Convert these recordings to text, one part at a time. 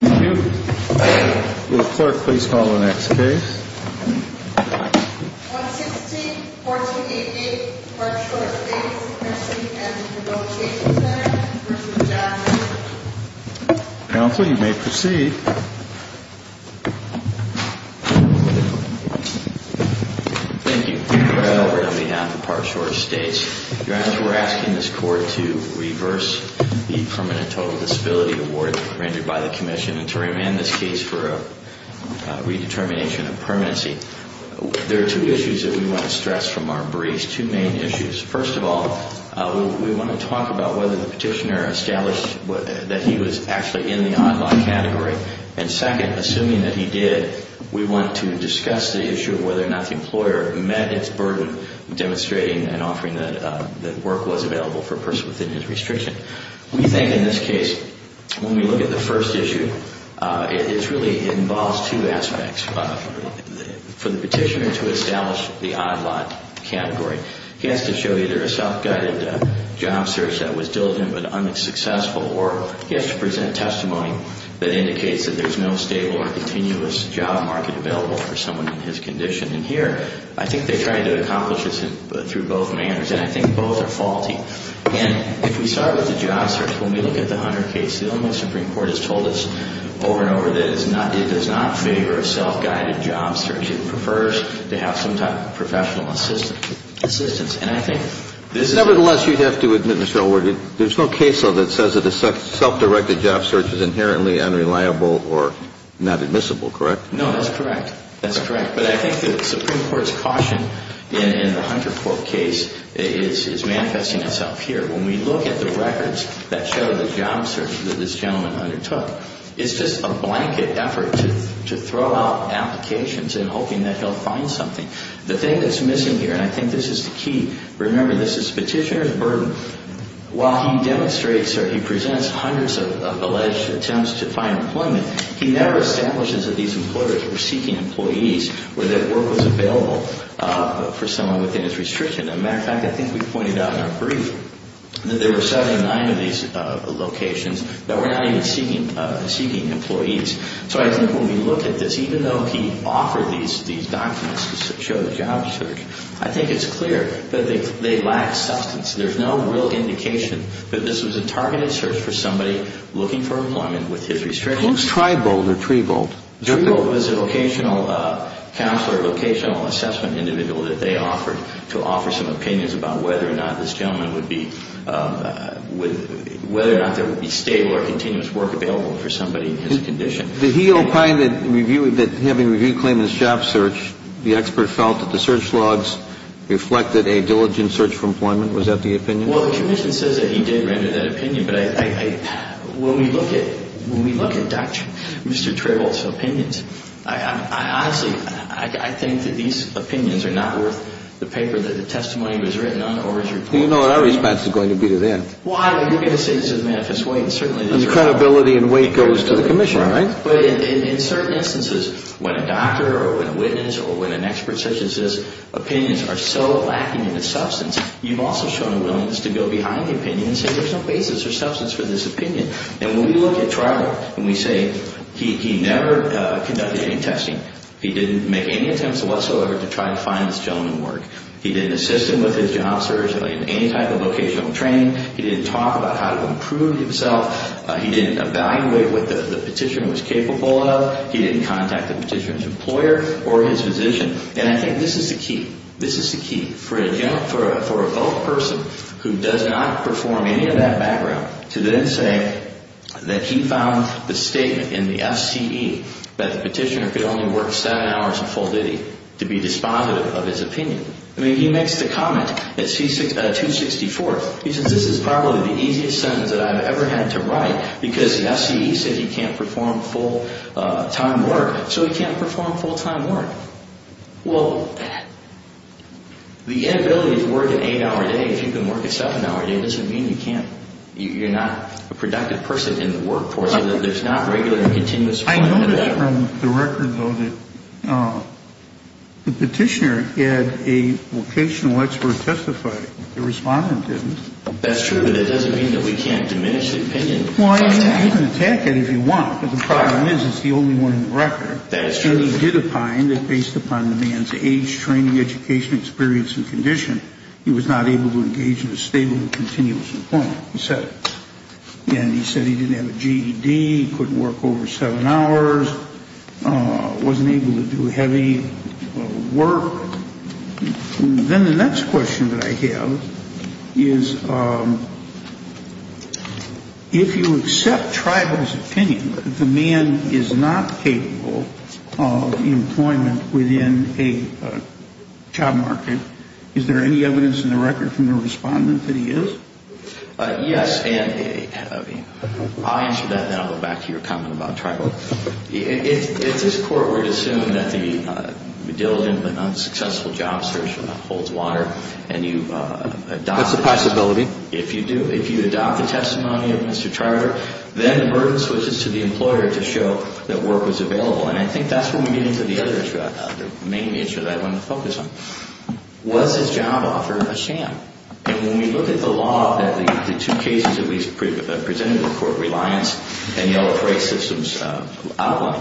16, 1488 Parkshore Estates Nursing & Rehabilitation Center v. John Mellon Council, you may proceed. Thank you. Chris Gilbert on behalf of Parkshore Estates. Your Honor, we're asking this Court to reverse the Permanent Total Disability Award rendered by the Commission and to remand this case for a redetermination of permanency. There are two issues that we want to stress from our briefs, two main issues. First of all, we want to talk about whether the petitioner established that he was actually in the on-law category. And second, assuming that he did, we want to discuss the issue of whether or not the employer met its burden demonstrating and offering that work was available for a person within his restriction. We think in this case, when we look at the first issue, it really involves two aspects for the petitioner to establish the on-law category. He has to show either a self-guided job search that was diligent but unsuccessful, or he has to present testimony that indicates that there's no stable or continuous job market available for someone in his condition. And here, I think they're trying to accomplish this through both manners, and I think both are faulty. And if we start with the job search, when we look at the Hunter case, the Illinois Supreme Court has told us over and over that it does not favor a self-guided job search. It prefers to have some type of professional assistance. Nevertheless, you'd have to admit, Mr. Elworthy, there's no case law that says that a self-directed job search is inherently unreliable or not admissible, correct? No, that's correct. That's correct. But I think the Supreme Court's caution in the Hunter court case is manifesting itself here. When we look at the records that show the job search that this gentleman undertook, it's just a blanket effort to throw out applications in hoping that he'll find something. The thing that's missing here, and I think this is the key, remember, this is petitioner's burden. While he demonstrates or he presents hundreds of alleged attempts to find employment, he never establishes that these employers were seeking employees or that work was available for someone within his restriction. As a matter of fact, I think we pointed out in our brief that there were 79 of these locations that were not even seeking employees. So I think when we look at this, even though he offered these documents to show the job search, I think it's clear that they lack substance. There's no real indication that this was a targeted search for somebody looking for employment with his restrictions. Who's Tribolt or Tribolt? Tribolt was a locational counselor, a locational assessment individual that they offered to offer some opinions about whether or not this gentleman would be, whether or not there would be stable or continuous work available for somebody in his condition. Did he opine that having a review claim in the job search, the expert felt that the search logs reflected a diligent search for employment? Was that the opinion? Well, the commission says that he did render that opinion, but when we look at Dr. Mr. Tribolt's opinions, honestly, I think that these opinions are not worth the paper that the testimony was written on or his report. Well, you know what our response is going to be to that. Well, I mean, you're going to say this is a manifest way, and certainly it is. And the credibility and weight goes to the commission, right? Right. But in certain instances, when a doctor or when a witness or when an expert such as this, opinions are so lacking in the substance, you've also shown a willingness to go behind the opinion and say there's no basis or substance for this opinion. And when we look at Tribolt and we say he never conducted any testing, he didn't make any attempts whatsoever to try to find this gentleman work, he didn't assist him with his job search in any type of vocational training, he didn't talk about how to improve himself, he didn't evaluate what the petitioner was capable of, he didn't contact the petitioner's employer or his physician. And I think this is the key. This is the key for a vote person who does not perform any of that background to then say that he found the statement in the FCE that the petitioner could only work seven hours a full day to be dispositive of his opinion. I mean, he makes the comment at 264, he says this is probably the easiest sentence that I've ever had to write because the FCE said he can't perform full-time work, so he can't perform full-time work. Well, the inability to work an eight-hour day, if you can work a seven-hour day, you're not a productive person in the workforce. There's not regular and continuous work. I noticed from the record, though, that the petitioner had a vocational expert testify. The respondent didn't. That's true, but that doesn't mean that we can't diminish the opinion. Well, you can attack it if you want, but the problem is it's the only one in the record. That is true. And he did opine that based upon the man's age, training, education, experience and condition, he was not able to engage in a stable and continuous employment. He said it. And he said he didn't have a GED, couldn't work over seven hours, wasn't able to do heavy work. Then the next question that I have is if you accept tribal's opinion that the man is not capable of employment within a job market, is there any evidence in the record from the respondent that he is? Yes, and I'll answer that, and then I'll go back to your comment about tribal. If this Court were to assume that the diligent but unsuccessful job search holds water and you adopt it. That's a possibility. If you do, if you adopt the testimony of Mr. Trialor, then the burden switches to the employer to show that work was available. And I think that's when we get into the other issue, the main issue that I want to focus on. Was his job offer a sham? And when we look at the law, the two cases that we presented in court, Reliance and the LFA systems outline,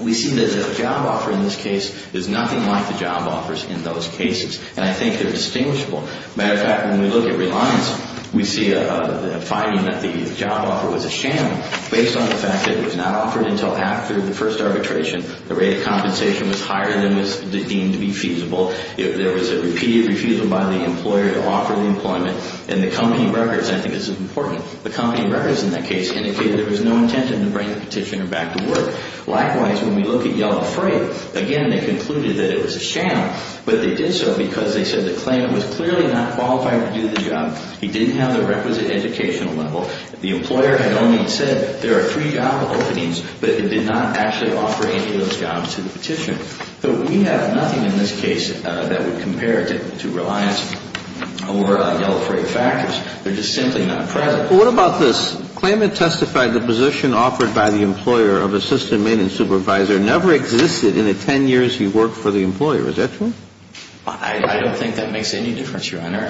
we see that the job offer in this case is nothing like the job offers in those cases. And I think they're distinguishable. As a matter of fact, when we look at Reliance, we see a finding that the job offer was a sham based on the fact that it was not offered until after the first arbitration. The rate of compensation was higher than was deemed to be feasible. There was a repeated refusal by the employer to offer the employment. And the company records, I think this is important, the company records in that case indicated there was no intent to bring the petitioner back to work. Likewise, when we look at Yellow Freight, again, they concluded that it was a sham, but they did so because they said the claimant was clearly not qualified to do the job. He didn't have the requisite educational level. The employer had only said there are three job openings, but it did not actually offer any of those jobs to the petitioner. So we have nothing in this case that would compare to Reliance or Yellow Freight factors. They're just simply not present. Well, what about this? Claimant testified the position offered by the employer of assistant maintenance supervisor never existed in the 10 years he worked for the employer. Is that true? I don't think that makes any difference, Your Honor.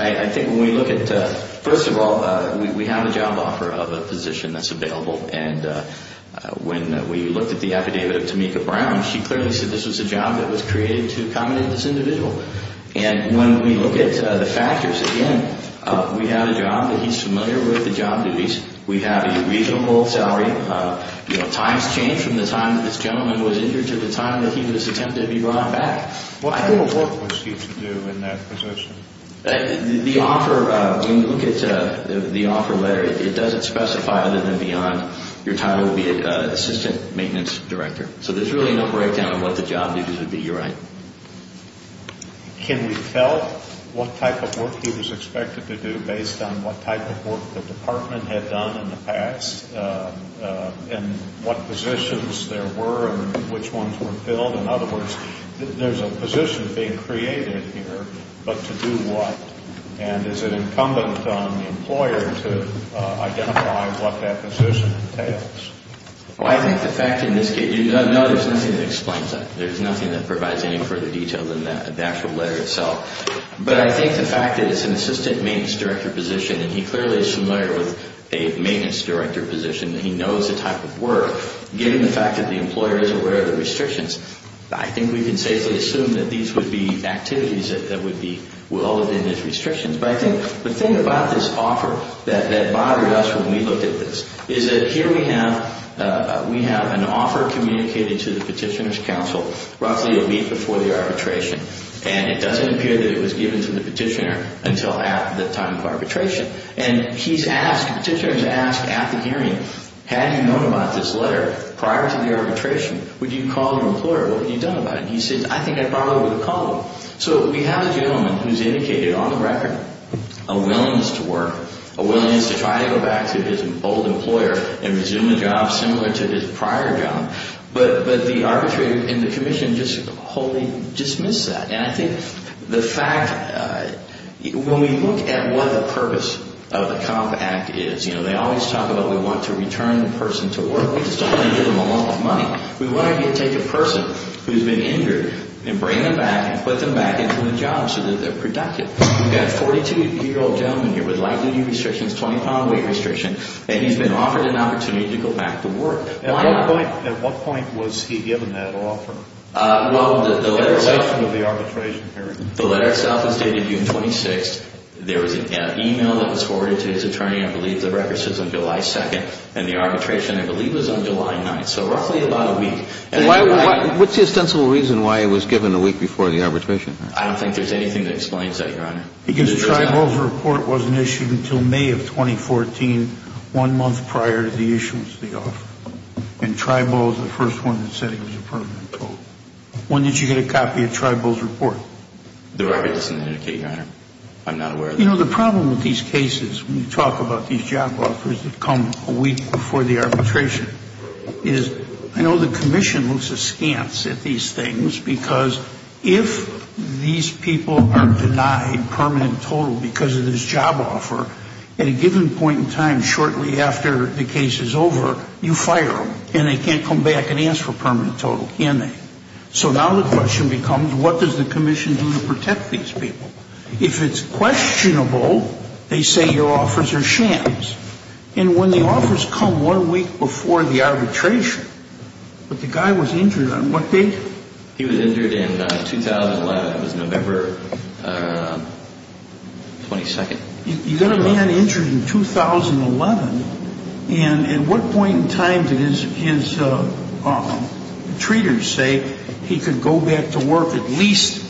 First of all, we have a job offer of a position that's available, and when we looked at the affidavit of Tamika Brown, she clearly said this was a job that was created to accommodate this individual. And when we look at the factors, again, we have a job that he's familiar with, the job duties. We have a reasonable salary. Times change from the time that this gentleman was injured to the time that he was attempted to be brought back. What type of work was he to do in that position? The offer, when you look at the offer letter, it doesn't specify other than beyond your title would be assistant maintenance director. So there's really no breakdown of what the job duties would be, Your Honor. Can we tell what type of work he was expected to do based on what type of work the department had done in the past and what positions there were and which ones were filled? In other words, there's a position being created here, but to do what? And is it incumbent on the employer to identify what that position entails? Well, I think the fact in this case, no, there's nothing that explains that. There's nothing that provides any further detail than that, the actual letter itself. But I think the fact that it's an assistant maintenance director position and he clearly is familiar with a maintenance director position, and he knows the type of work, given the fact that the employer is aware of the restrictions, I think we can safely assume that these would be activities that would be well within his restrictions. But I think the thing about this offer that bothered us when we looked at this is that here we have an offer communicated to the petitioner's counsel roughly a week before the arbitration, and it doesn't appear that it was given to the petitioner until at the time of arbitration. And he's asked, the petitioner has asked at the hearing, had you known about this letter prior to the arbitration, would you have called an employer? What would you have done about it? And he says, I think I'd probably would have called them. So we have a gentleman who's indicated on the record a willingness to work, a willingness to try to go back to his old employer and resume a job similar to his prior job, but the arbitrator and the commission just wholly dismiss that. And I think the fact, when we look at what the purpose of the COMP Act is, you know, they always talk about we want to return the person to work. We just don't want to give them a lump of money. We want to take a person who's been injured and bring them back and put them back into a job so that they're productive. We've got a 42-year-old gentleman here with light duty restrictions, 20-pound weight restriction, and he's been offered an opportunity to go back to work. At what point was he given that offer? Well, the letter itself is dated June 26th. There was an e-mail that was forwarded to his attorney, I believe the record says on July 2nd, and the arbitration I believe was on July 9th, so roughly about a week. What's the ostensible reason why he was given a week before the arbitration? I don't think there's anything that explains that, Your Honor. Because Tribal's report wasn't issued until May of 2014, one month prior to the issuance of the offer. And Tribal was the first one that said it was a permanent total. When did you get a copy of Tribal's report? The record doesn't indicate, Your Honor. I'm not aware of that. You know, the problem with these cases, when you talk about these job offers that come a week before the arbitration, is I know the commission looks askance at these things because if these people are denied permanent total because of this job offer, at a given point in time shortly after the case is over, you fire them. And they can't come back and ask for permanent total, can they? So now the question becomes what does the commission do to protect these people? If it's questionable, they say your offers are shams. And when the offers come one week before the arbitration, but the guy was injured on what date? He was injured in 2011. It was November 22nd. You got a man injured in 2011. And at what point in time did his treaters say he could go back to work at least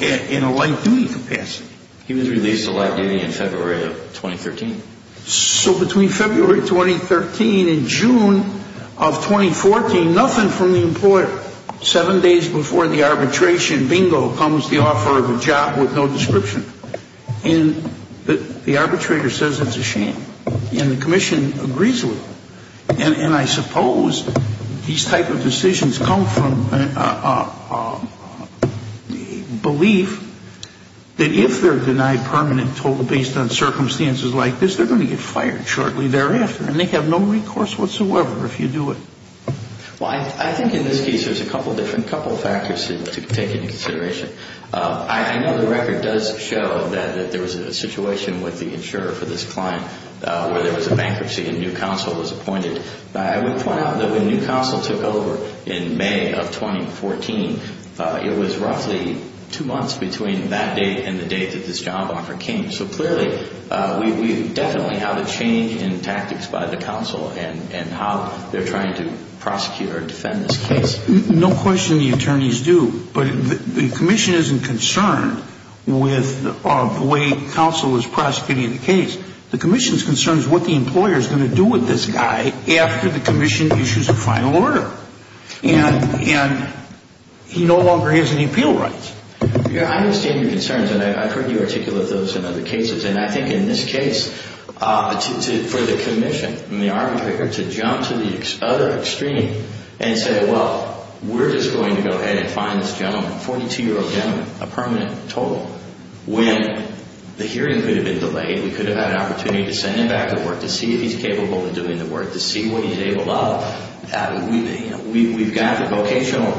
in a light duty capacity? He was released to light duty in February of 2013. So between February of 2013 and June of 2014, nothing from the employer. Seven days before the arbitration, bingo, comes the offer of a job with no description. And the arbitrator says it's a shame. And the commission agrees with it. And I suppose these type of decisions come from a belief that if they're denied permanent total based on circumstances like this, they're going to get fired shortly thereafter. And they have no recourse whatsoever if you do it. Well, I think in this case there's a couple different factors to take into consideration. I know the record does show that there was a situation with the insurer for this client where there was a bankruptcy and new counsel was appointed. I would point out that when new counsel took over in May of 2014, it was roughly two months between that date and the date that this job offer came. So clearly we definitely have a change in tactics by the counsel and how they're trying to prosecute or defend this case. No question the attorneys do. But the commission isn't concerned with the way counsel is prosecuting the case. The commission's concern is what the employer is going to do with this guy after the commission issues a final order. And he no longer has any appeal rights. I understand your concerns, and I've heard you articulate those in other cases. And I think in this case, for the commission and the arbitrator to jump to the other extreme and say, well, we're just going to go ahead and fine this gentleman, 42-year-old gentleman, a permanent total, when the hearing could have been delayed, we could have had an opportunity to send him back to work to see if he's capable of doing the work, to see what he's able of. We've got the vocational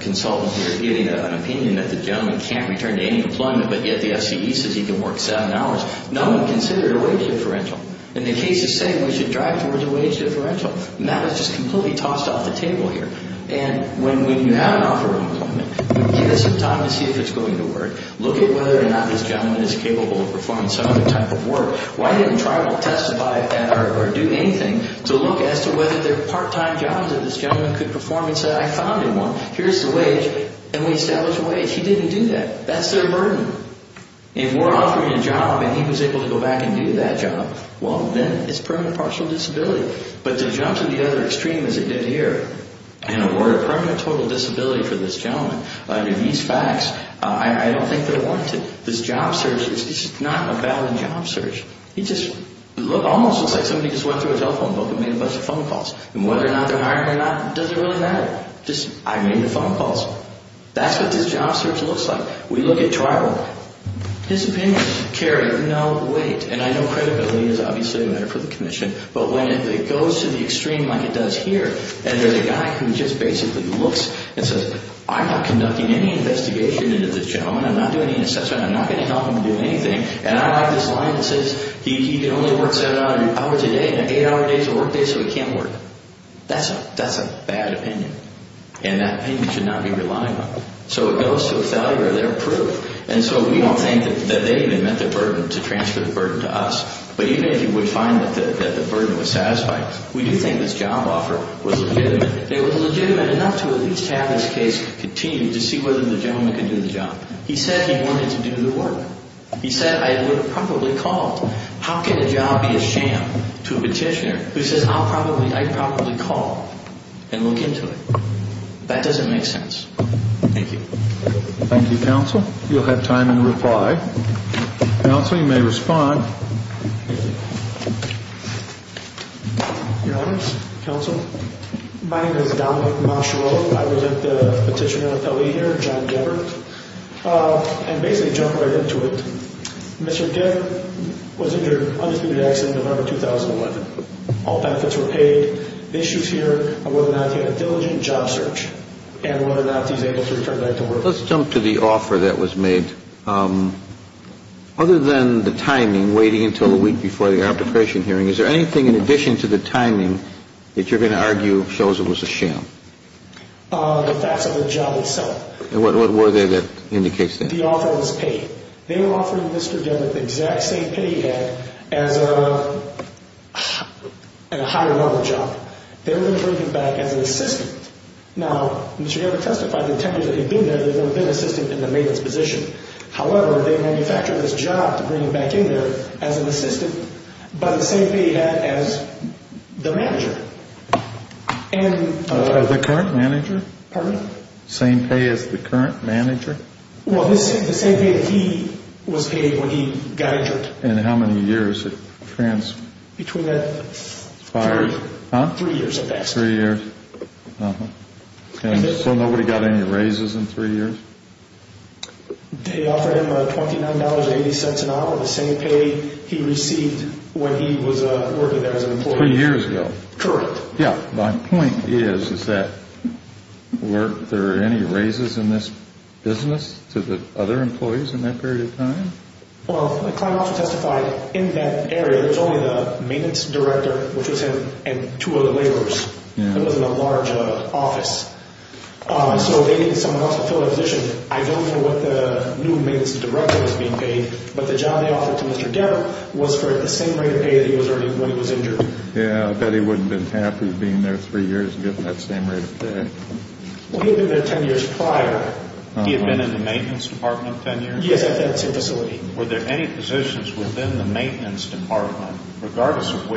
consultant here giving an opinion that the gentleman can't return to any employment, but yet the FCE says he can work seven hours. No one considered a wage differential. And the case is saying we should drive towards a wage differential. And that is just completely tossed off the table here. And when you have an offer of employment, you give it some time to see if it's going to work, look at whether or not this gentleman is capable of performing some other type of work. Why didn't Tribal testify or do anything to look as to whether there are part-time jobs that this gentleman could perform and say, I found one, here's the wage, and we establish a wage? He didn't do that. That's their burden. If we're offering a job and he was able to go back and do that job, well, then it's permanent partial disability. But to jump to the other extreme, as it did here, and award a permanent total disability for this gentleman, these facts, I don't think they're warranted. This job search, it's not a valid job search. It just almost looks like somebody just went through his cell phone book and made a bunch of phone calls. And whether or not they're hiring or not doesn't really matter. Just, I made the phone calls. That's what this job search looks like. We look at Tribal. His opinion is, Kerry, no, wait. And I know credibility is obviously a matter for the Commission. But when it goes to the extreme like it does here, and there's a guy who just basically looks and says, I'm not conducting any investigation into this gentleman. I'm not doing any assessment. I'm not going to help him do anything. And I like this line that says he can only work seven hours a day and eight-hour days are work days, so he can't work. That's a bad opinion. And that opinion should not be relied upon. So it goes to a failure of their proof. And so we don't think that they even met the burden to transfer the burden to us. But even if you would find that the burden was satisfied, we do think this job offer was legitimate. It was legitimate enough to at least have this case continue to see whether the gentleman could do the job. He said he wanted to do the work. He said, I would have probably called. How can a job be a sham to a petitioner who says, I'll probably, I'd probably call and look into it? That doesn't make sense. Thank you. Thank you, Counsel. You'll have time in reply. Counsel, you may respond. Thank you. Your Honor, Counsel, my name is Dominic Machereau. I represent the Petitioner Affiliate here, John Geber. And basically jump right into it. Mr. Geber was injured in an undisputed accident in November 2011. All benefits were paid. The issues here are whether or not he had a diligent job search and whether or not he was able to return back to work. Let's jump to the offer that was made. Other than the timing, waiting until a week before the arbitration hearing, is there anything in addition to the timing that you're going to argue shows it was a sham? The facts of the job itself. And what were they that indicates that? The offer was paid. They were offering Mr. Geber the exact same pay he had as a higher-level job. They were going to bring him back as an assistant. Now, Mr. Geber testified that the time that he'd been there, there had never been an assistant in the maiden's position. However, they manufactured this job to bring him back in there as an assistant, but the same pay he had as the manager. As the current manager? Pardon me? Same pay as the current manager? Well, the same pay that he was paid when he got injured. And how many years it transpired? Between that and three years of that. Three years. Uh-huh. And so nobody got any raises in three years? They offered him $29.80 an hour, the same pay he received when he was working there as an employee. Three years ago? Correct. Yeah, my point is, is that, were there any raises in this business to the other employees in that period of time? Well, Clyde also testified, in that area, there was only the maintenance director, which was him, and two other laborers. It wasn't a large office. So they needed someone else to fill that position. I don't know what the new maintenance director was being paid, but the job they offered to Mr. Geber was for the same rate of pay that he was earning when he was injured. Yeah, I bet he wouldn't have been happy being there three years and getting that same rate of pay. Well, he had been there ten years prior. He had been in the maintenance department ten years? Yes, at that same facility. Were there any positions within the maintenance department, regardless of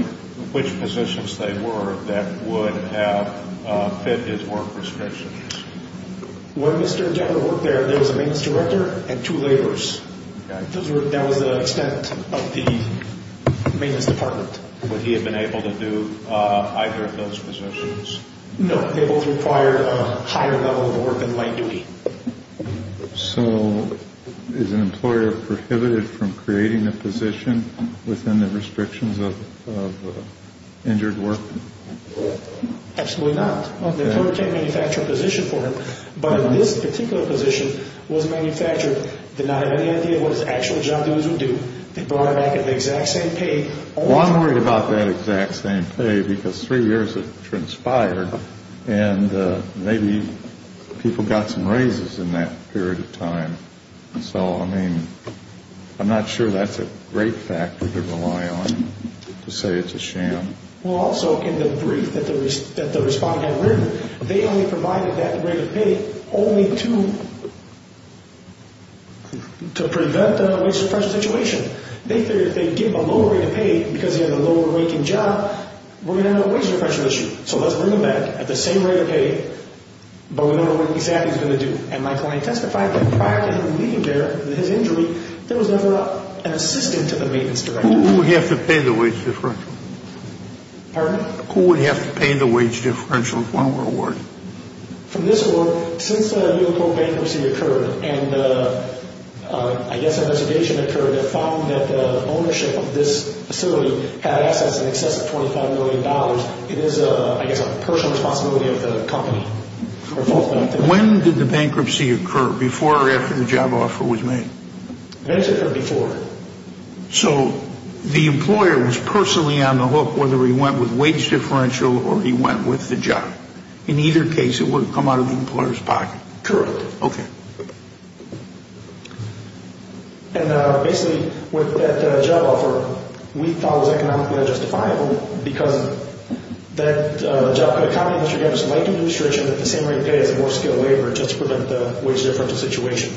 which positions they were, that would have fit his work restrictions? When Mr. Geber worked there, there was a maintenance director and two laborers. That was the extent of the maintenance department. Would he have been able to do either of those positions? No. They both required a higher level of work and light duty. So is an employer prohibited from creating a position within the restrictions of injured work? Absolutely not. The employer can't manufacture a position for him, but if this particular position was manufactured, did not have any idea what his actual job duties would do, they brought him back at the exact same pay. Well, I'm worried about that exact same pay because three years has transpired, and maybe people got some raises in that period of time. So, I mean, I'm not sure that's a great factor to rely on to say it's a sham. Well, also in the brief that the respondent had written, they only provided that rate of pay only to prevent a wage differential situation. They figured if they give a lower rate of pay because he had a lower-ranking job, we're going to have a wage differential issue. So let's bring him back at the same rate of pay, but we don't know what exactly he's going to do. And my client testified that prior to him leaving there with his injury, there was never an assistant to the maintenance director. Who would have to pay the wage differential? Pardon? From this work, since the vehicle bankruptcy occurred, and I guess a reservation occurred that found that the ownership of this facility had assets in excess of $25 million, it is, I guess, a personal responsibility of the company. When did the bankruptcy occur? Before or after the job offer was made? So the employer was personally on the hook, whether he went with wage differential or he went with the job. In either case, it wouldn't come out of the employer's pocket. Correct. Okay. And basically, with that job offer, we thought it was economically unjustifiable because that job could accommodate Mr. Devitt's late administration at the same rate of pay as a more skilled laborer, just to prevent the wage differential situation.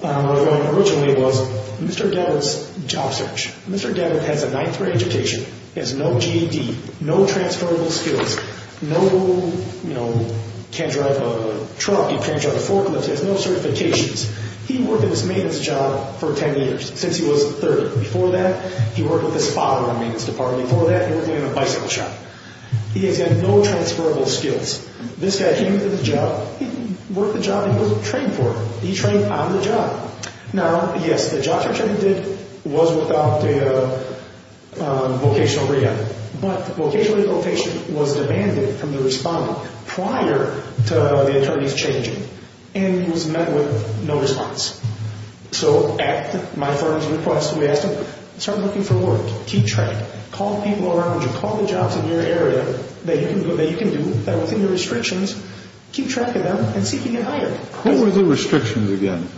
What I was going to originally was Mr. Devitt's job search. Mr. Devitt has a ninth-grade education, has no GED, no transferable skills, can't drive a truck, he can't drive a forklift, he has no certifications. He worked in this maintenance job for 10 years, since he was 30. Before that, he worked with his father in the maintenance department. Before that, he worked in a bicycle shop. He has had no transferable skills. This guy came into the job, he worked the job he was trained for. He trained on the job. Now, yes, the job search he did was without a vocational rehab, but vocational rehab was demanded from the respondent prior to the attorneys changing, and he was met with no response. So at my firm's request, we asked him to start looking for work, keep track, call people around you, call the jobs in your area that you can do that are within your restrictions, keep track of them, and see if you can get hired. Who were the restrictions again?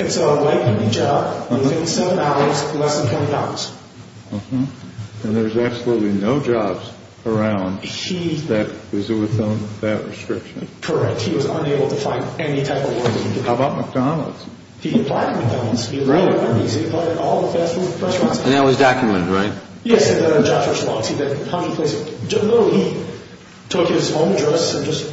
It's a lightening job. It was $87, less than $20. And there was absolutely no jobs around that were within that restriction. Correct. He was unable to find any type of work. How about McDonald's? He applied at McDonald's. He applied at all the fast food restaurants. And that was documented, right? Yes, the job search logs. No, he took his own address and just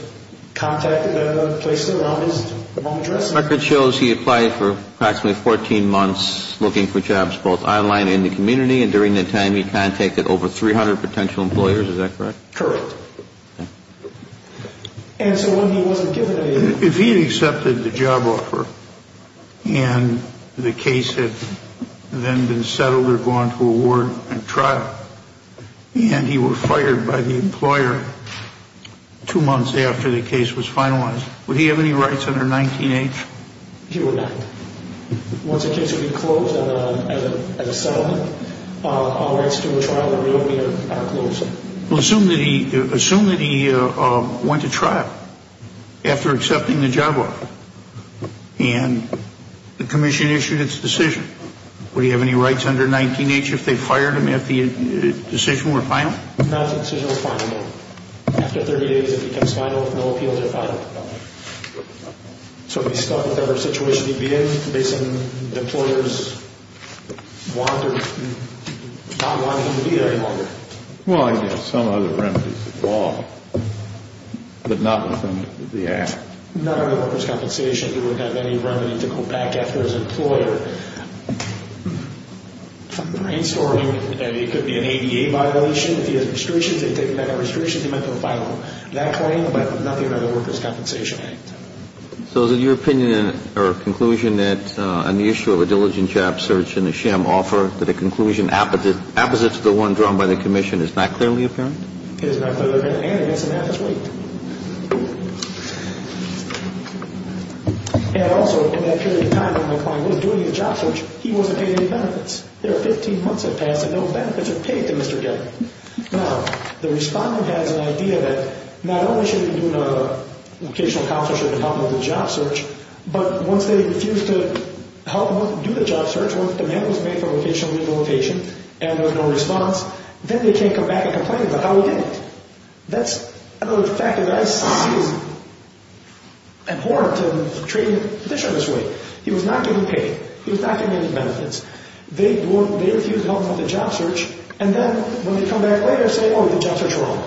contacted them and placed it around his own address. The record shows he applied for approximately 14 months looking for jobs both online and in the community, and during that time he contacted over 300 potential employers. Is that correct? Correct. And so when he wasn't given a… If he had accepted the job offer and the case had then been settled or gone to a ward and trial, and he were fired by the employer two months after the case was finalized, would he have any rights under 19-H? He would not. Once the case would be closed as a settlement, our rights to a trial would really be at a close. Well, assume that he went to trial after accepting the job offer and the commission issued its decision. Would he have any rights under 19-H if they fired him after the decision were final? No, the decision was final. After 30 days it becomes final. No appeals are final. So he's stuck with whatever situation he'd be in Well, he'd have some other remedies to call, but not within the Act. Not under the Workers' Compensation. He wouldn't have any remedy to go back after his employer. For installing, it could be an ADA violation. If he has restrictions, they'd take him back on restrictions. He might go file that claim, but nothing under the Workers' Compensation Act. So is it your opinion or conclusion that on the issue of a diligent job search in the SHM offer that a conclusion opposite to the one drawn by the commission is not clearly apparent? It is not clearly apparent, and it makes the math as weak. And also, in that period of time when McClain was doing the job search, he wasn't paid any benefits. There are 15 months that passed and no benefits are paid to Mr. Getty. Now, the Respondent has an idea that not only should he be doing a vocational counselor should help him with the job search, but once they refuse to help him do the job search, once demand was made for vocational rehabilitation and there was no response, then they can't come back and complain about how he did it. That's another factor that I see as important in treating the petitioner this way. He was not getting paid. He was not getting any benefits. They refuse to help him with the job search, and then when they come back later, say, oh, the job search is wrong.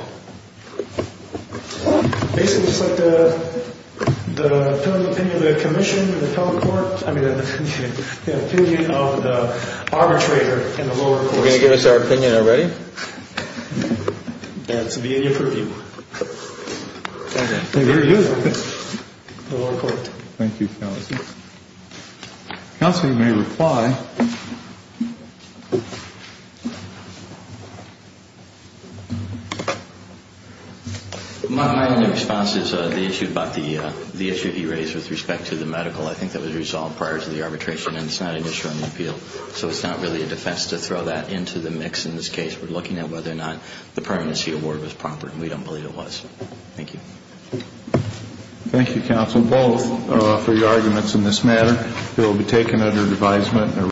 Basically, just like the opinion of the commission and the felon court, I mean the opinion of the arbitrator and the lower court. You're going to give us our opinion already? That's the beginning of the review. Very good. Thank you, counsel. Counsel, you may reply. My only response is the issue about the issue you raised with respect to the medical. I think that was resolved prior to the arbitration, and it's not an issue on the appeal, so it's not really a defense to throw that into the mix in this case. We're looking at whether or not the permanency award was proper, and we don't believe it was. Thank you. Thank you, counsel, both for your arguments in this matter. They will be taken under advisement.